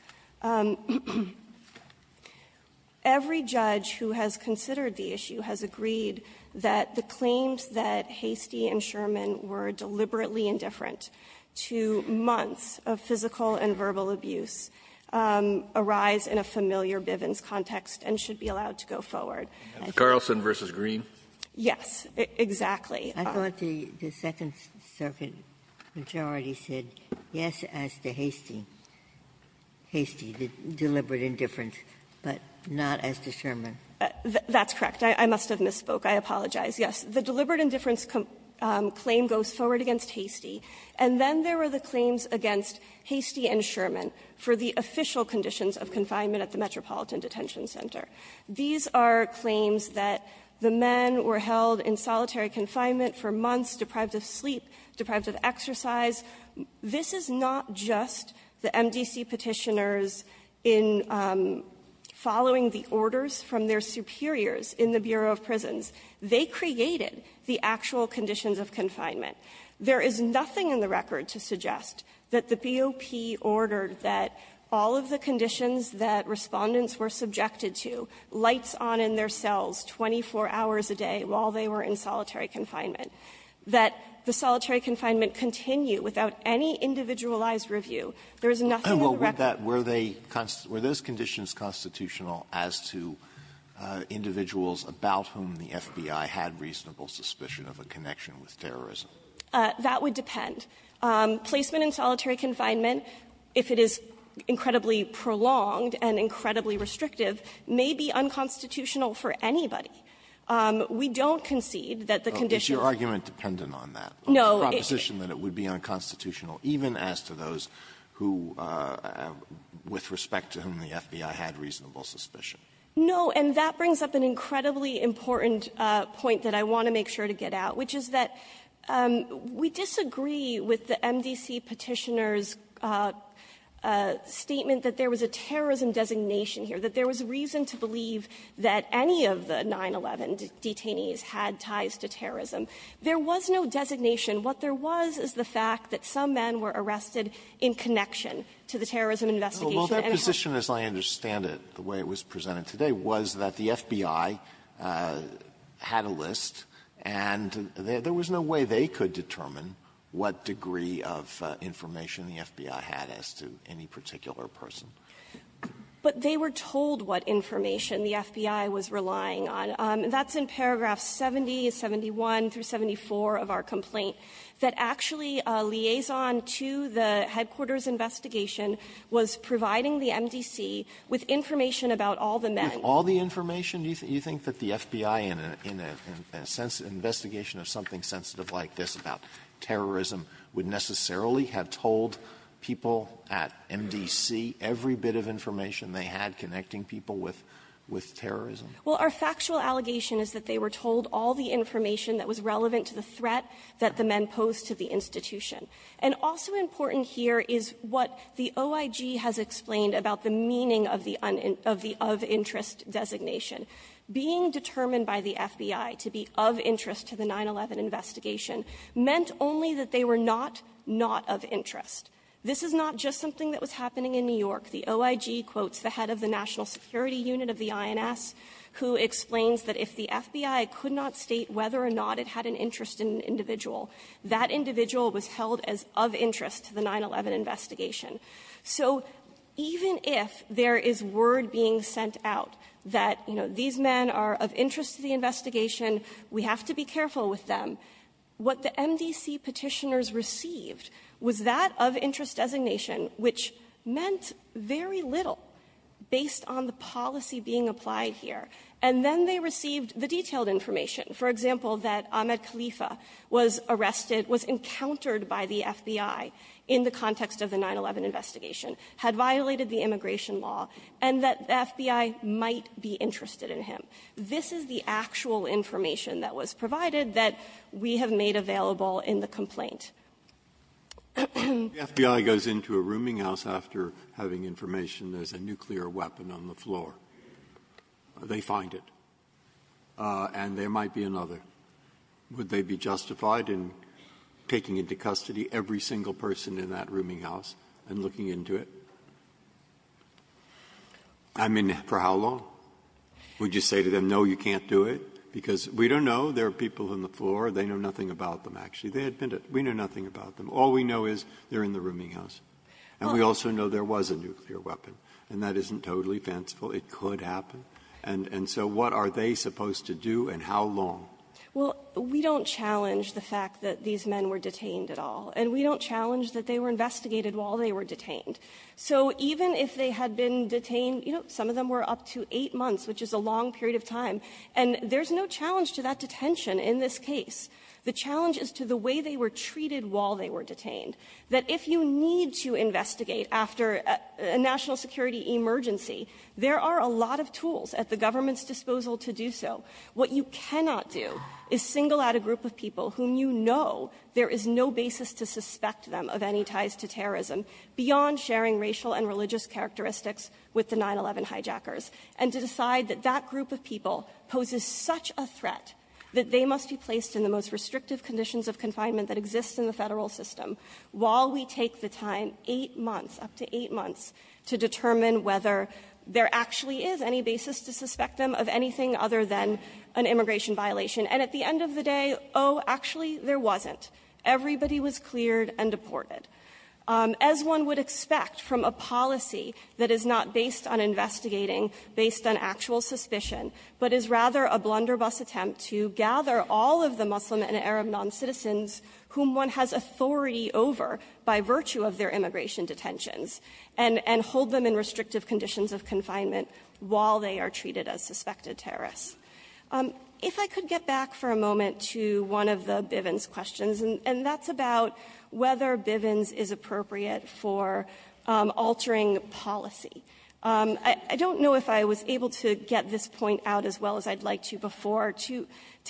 Every judge who has considered the issue has agreed that the claims that Hastie and Sherman were deliberately indifferent to months of physical and verbal abuse arise in a familiar Bivens context and should be allowed to go forward. Carlson v. Green? Yes, exactly. I thought the Second Circuit majority said yes as to Hastie – Hastie, the deliberate indifference, but not as to Sherman. That's correct. I must have misspoke. I apologize. Yes. The deliberate indifference claim goes forward against Hastie, and then there were the claims against Hastie and Sherman for the official conditions of confinement at the Metropolitan Detention Center. These are claims that the men were held in solitary confinement for months, deprived of sleep, deprived of exercise. This is not just the MDC Petitioners in following the orders from their superiors in the Bureau of Prisons. They created the actual conditions of confinement. There is nothing in the record to suggest that the BOP ordered that all of the conditions that Respondents were subjected to, lights on in their cells 24 hours a day while they were in solitary confinement, that the solitary confinement continue without any individualized review. There is nothing in the record. Were they – were those conditions constitutional as to individuals about whom the FBI had reasonable suspicion of a connection with terrorism? That would depend. Placement in solitary confinement, if it is incredibly prolonged and incredibly restrictive, may be unconstitutional for anybody. We don't concede that the conditions – Alito, is your argument dependent on that? No. It's a proposition that it would be unconstitutional even as to those who, with respect to whom the FBI had reasonable suspicion. No. And that brings up an incredibly important point that I want to make sure to get out, which is that we disagree with the MDC Petitioner's statement that there was a terrorism designation here, that there was reason to believe that any of the 9-11 detainees had ties to terrorism. There was no designation. What there was is the fact that some men were arrested in connection to the terrorism investigation. Alito, their position, as I understand it, the way it was presented today, was that the FBI had a list, and there was no way they could determine what degree of information the FBI had as to any particular person. But they were told what information the FBI was relying on. That's in paragraph 70, 71, through 74 of our complaint, that actually a liaison to the headquarters investigation was providing the MDC with information about all the men. Alito, with all the information, do you think that the FBI, in a sense, investigation of something sensitive like this about terrorism, would necessarily have told people at MDC every bit of information they had connecting people with terrorism? Well, our factual allegation is that they were told all the information that was relevant to the threat that the men posed to the institution. And also important here is what the OIG has explained about the meaning of the of-interest designation. Being determined by the FBI to be of interest to the 9-11 investigation meant only that they were not not of interest. This is not just something that was happening in New York. The OIG quotes the head of the National Security Unit of the INS, who explains that if the FBI could not state whether or not it had an interest in an individual, that individual was held as of interest to the 9-11 investigation. So even if there is word being sent out that, you know, these men are of interest to the investigation, we have to be careful with them, what the MDC Petitioners received was that of-interest designation, which meant very little based on the policy being applied here. And then they received the detailed information. For example, that Ahmed Khalifa was arrested, was encountered by the FBI in the context of the 9-11 investigation, had violated the immigration law, and that the FBI might be interested in him. This is the actual information that was provided that we have made available in the complaint. Breyer, the FBI goes into a rooming house after having information there's a nuclear weapon on the floor. They find it. And there might be another. Would they be justified in taking into custody every single person in that rooming house and looking into it? I mean, for how long? Would you say to them, no, you can't do it? Because we don't know. There are people on the floor. They know nothing about them, actually. We know nothing about them. All we know is they're in the rooming house. And we also know there was a nuclear weapon. And that isn't totally fanciful. It could happen. And so what are they supposed to do and how long? Well, we don't challenge the fact that these men were detained at all. And we don't challenge that they were investigated while they were detained. So even if they had been detained, you know, some of them were up to eight months, which is a long period of time. And there's no challenge to that detention in this case. The challenge is to the way they were treated while they were detained, that if you need to investigate after a national security emergency, there are a lot of tools at the government's disposal to do so. What you cannot do is single out a group of people whom you know there is no basis to suspect them of any ties to terrorism beyond sharing racial and religious characteristics with the 9-11 hijackers, and to decide that that group of people poses such a threat that they must be placed in the most restrictive conditions of confinement that exist in the Federal system while we take the time, eight months, up to eight months, to determine whether there actually is any basis to suspect them of anything other than an immigration violation. And at the end of the day, oh, actually, there wasn't. Everybody was cleared and deported. As one would expect from a policy that is not based on investigating, based on actual suspicion, but is rather a blunderbuss attempt to gather all of the Muslim and Arab noncitizens whom one has authority over by virtue of their immigration detentions, and hold them in restrictive conditions of confinement while they are treated as suspected terrorists. If I could get back for a moment to one of the Bivens questions, and that's about whether Bivens is appropriate for altering policy. I don't know if I was able to get this point out as well as I'd like to before, to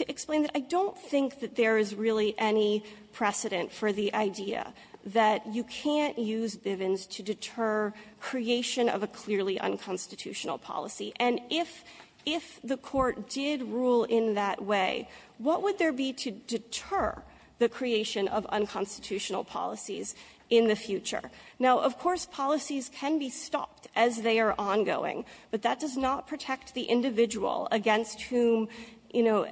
explain that I don't think that there is really any precedent for the idea that you can't use Bivens to deter creation of a clearly unconstitutional policy. And if the Court did rule in that way, what would there be to deter the creation of unconstitutional policies in the future? Now, of course, policies can be stopped as they are ongoing, but that does not protect the individual against whom, you know,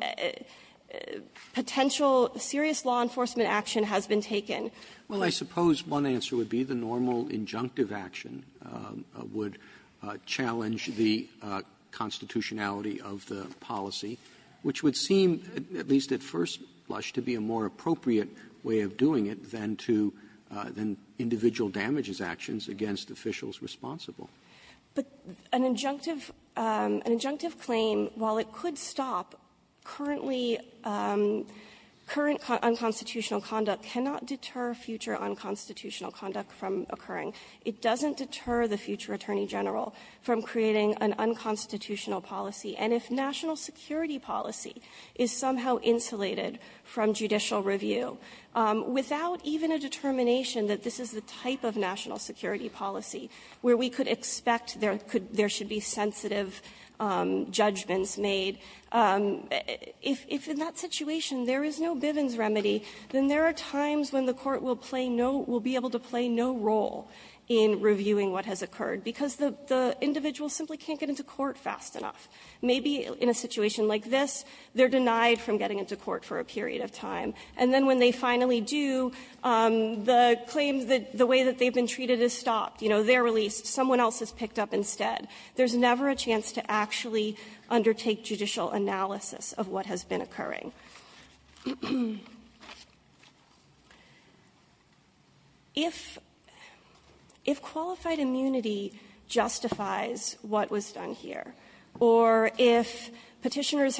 potential serious law enforcement action has been taken. Roberts. Roberts. Well, I suppose one answer would be the normal injunctive action would challenge the constitutionality of the policy, which would seem, at least at first blush, to be a more appropriate way of doing it than to the individual damages actions against officials responsible. But an injunctive claim, while it could stop, currently, current unconstitutional conduct cannot deter future unconstitutional conduct from occurring. It doesn't deter the future Attorney General from creating an unconstitutional policy. And if national security policy is somehow insulated from judicial review, without even a determination that this is the type of national security policy where we could expect there should be sensitive judgments made, if in that situation there is no Bivens remedy, then there are times when the Court will play no – will be able to play no role in reviewing what has occurred, because the individual simply can't get into court fast enough. Maybe in a situation like this, they're denied from getting into court for a period of time, and then when they finally do, the claim, the way that they've been treated is stopped. You know, they're released. Someone else is picked up instead. There's never a chance to actually undertake judicial analysis of what has been occurring. If qualified immunity justifies what was done here, or if Petitioners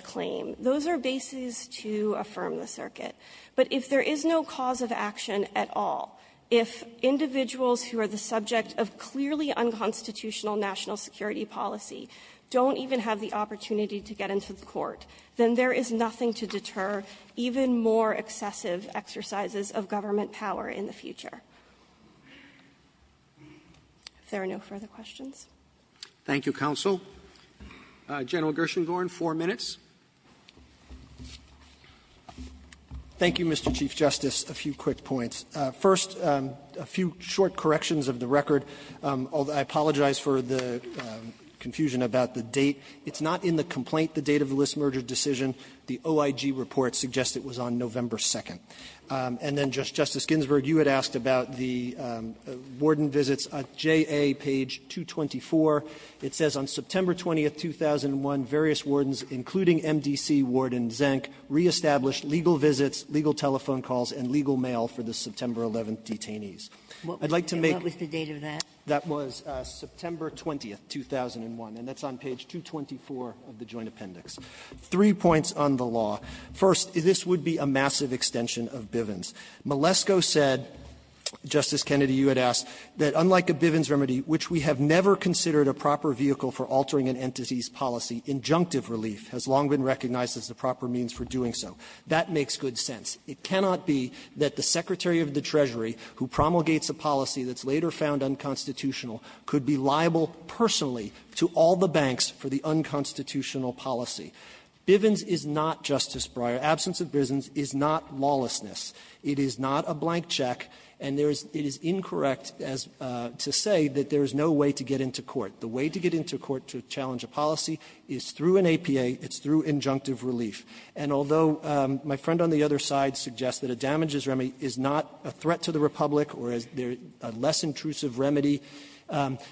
claim, those are bases to affirm the circuit. But if there is no cause of action at all, if individuals who are the subject of clearly unconstitutional national security policy don't even have the opportunity to get into the court, then there is nothing to deter even more excessive exercises of government power in the future. If there are no further questions. Roberts Thank you, counsel. General Gershengorn, four minutes. Gershengorn Thank you, Mr. Chief Justice. A few quick points. First, a few short corrections of the record. I apologize for the confusion about the date. It's not in the complaint, the date of the list merger decision. The OIG report suggests it was on November 2nd. And then, Justice Ginsburg, you had asked about the warden visits at J.A. page 224. It says, on September 20th, 2001, various wardens, including M.D.C. Warden Zenk, reestablished legal visits, legal telephone calls, and legal mail for the September 11th detainees. I'd like to make the date of that. That was September 20th, 2001. And that's on page 224 of the Joint Appendix. Three points on the law. First, this would be a massive extension of Bivens. Malesko said, Justice Kennedy, you had asked, that unlike a Bivens remedy, which we have never considered a proper vehicle for altering an entity's policy, injunctive relief has long been recognized as the proper means for doing so. That makes good sense. It cannot be that the Secretary of the Treasury, who promulgates a policy that's later found unconstitutional, could be liable personally to all the banks for the unconstitutional policy. Bivens is not, Justice Breyer, absence of Bivens is not lawlessness. It is not a blank check. And there is — it is incorrect as — to say that there is no way to get into court. The way to get into court to challenge a policy is through an APA. It's through injunctive relief. And although my friend on the other side suggests that a damages remedy is not a threat to the Republic or is a less intrusive remedy,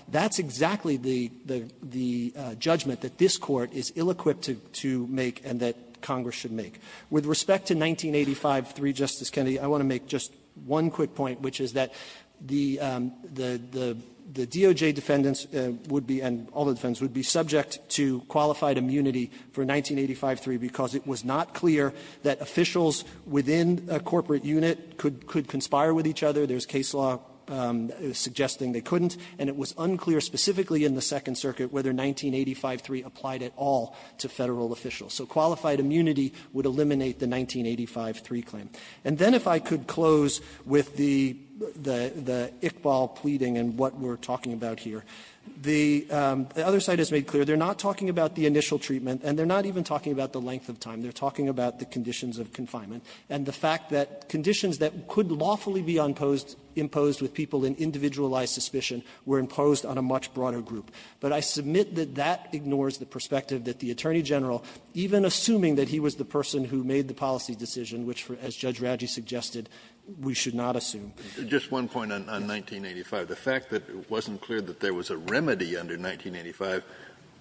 that's exactly the — the — the judgment that this Court is ill-equipped to — to make and that Congress should make. With respect to 1985-3, Justice Kennedy, I want to make just one quick point, which is that the — the — the DOJ defendants would be, and all the defendants, would be subject to qualified immunity for 1985-3 because it was not clear that officials within a corporate unit could — could conspire with each other. There's case law suggesting they couldn't. And it was unclear specifically in the Second Circuit whether 1985-3 applied at all to Federal officials. So qualified immunity would eliminate the 1985-3 claim. And then if I could close with the — the — the Iqbal pleading and what we're talking about here, the — the other side has made clear they're not talking about the initial treatment and they're not even talking about the length of time. They're talking about the conditions of confinement and the fact that conditions that could lawfully be imposed with people in individualized suspicion were imposed on a much broader group. But I submit that that ignores the perspective that the Attorney General, even assuming that he was the person who made the policy decision, which, as Judge Radley suggested, we should not assume. Kennedy, just one point on — on 1985. The fact that it wasn't clear that there was a remedy under 1985,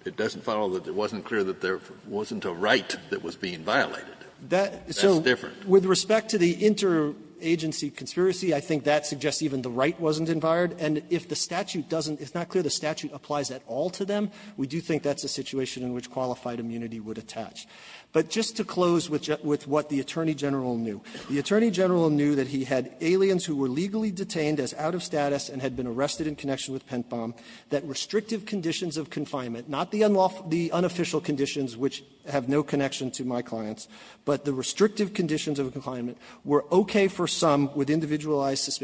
it doesn't follow that it wasn't clear that there wasn't a right that was being violated. That's different. So with respect to the interagency conspiracy, I think that suggests even the right wasn't inviolated. And if the statute doesn't — it's not clear the statute applies at all to them, we do think that's a situation in which qualified immunity would attach. But just to close with — with what the Attorney General knew. The Attorney General knew that he had aliens who were legally detained as out-of-status and had been arrested in connection with pent-bomb, that restrictive conditions of confinement, not the unofficial conditions which have no connection to my clients, but the restrictive conditions of confinement were okay for some with individualized which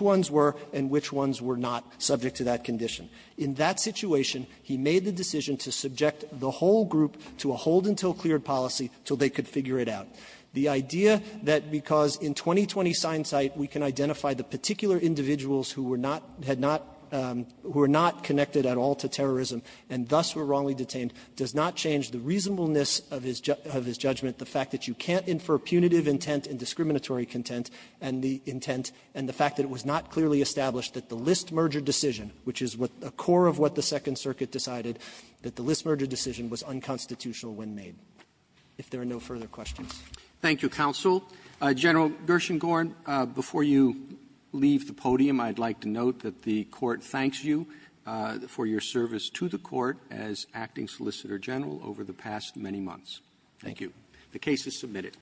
ones were and which ones were not subject to that condition. In that situation, he made the decision to subject the whole group to a hold-until-cleared policy till they could figure it out. The idea that because in 20-20 sign sight, we can identify the particular individuals who were not — had not — who were not connected at all to terrorism and thus were wrongly detained does not change the reasonableness of his — of his judgment, the fact that you can't infer punitive intent and discriminatory content and the intent and the fact that it was not clearly established that the List merger decision, which is what the core of what the Second Circuit decided, that the List merger decision was unconstitutional when made. If there are no further questions. Roberts. Thank you, counsel. General Gershengorn, before you leave the podium, I'd like to note that the Court thanks you for your service to the Court as acting Solicitor General over the past many months. Thank you. The case is submitted.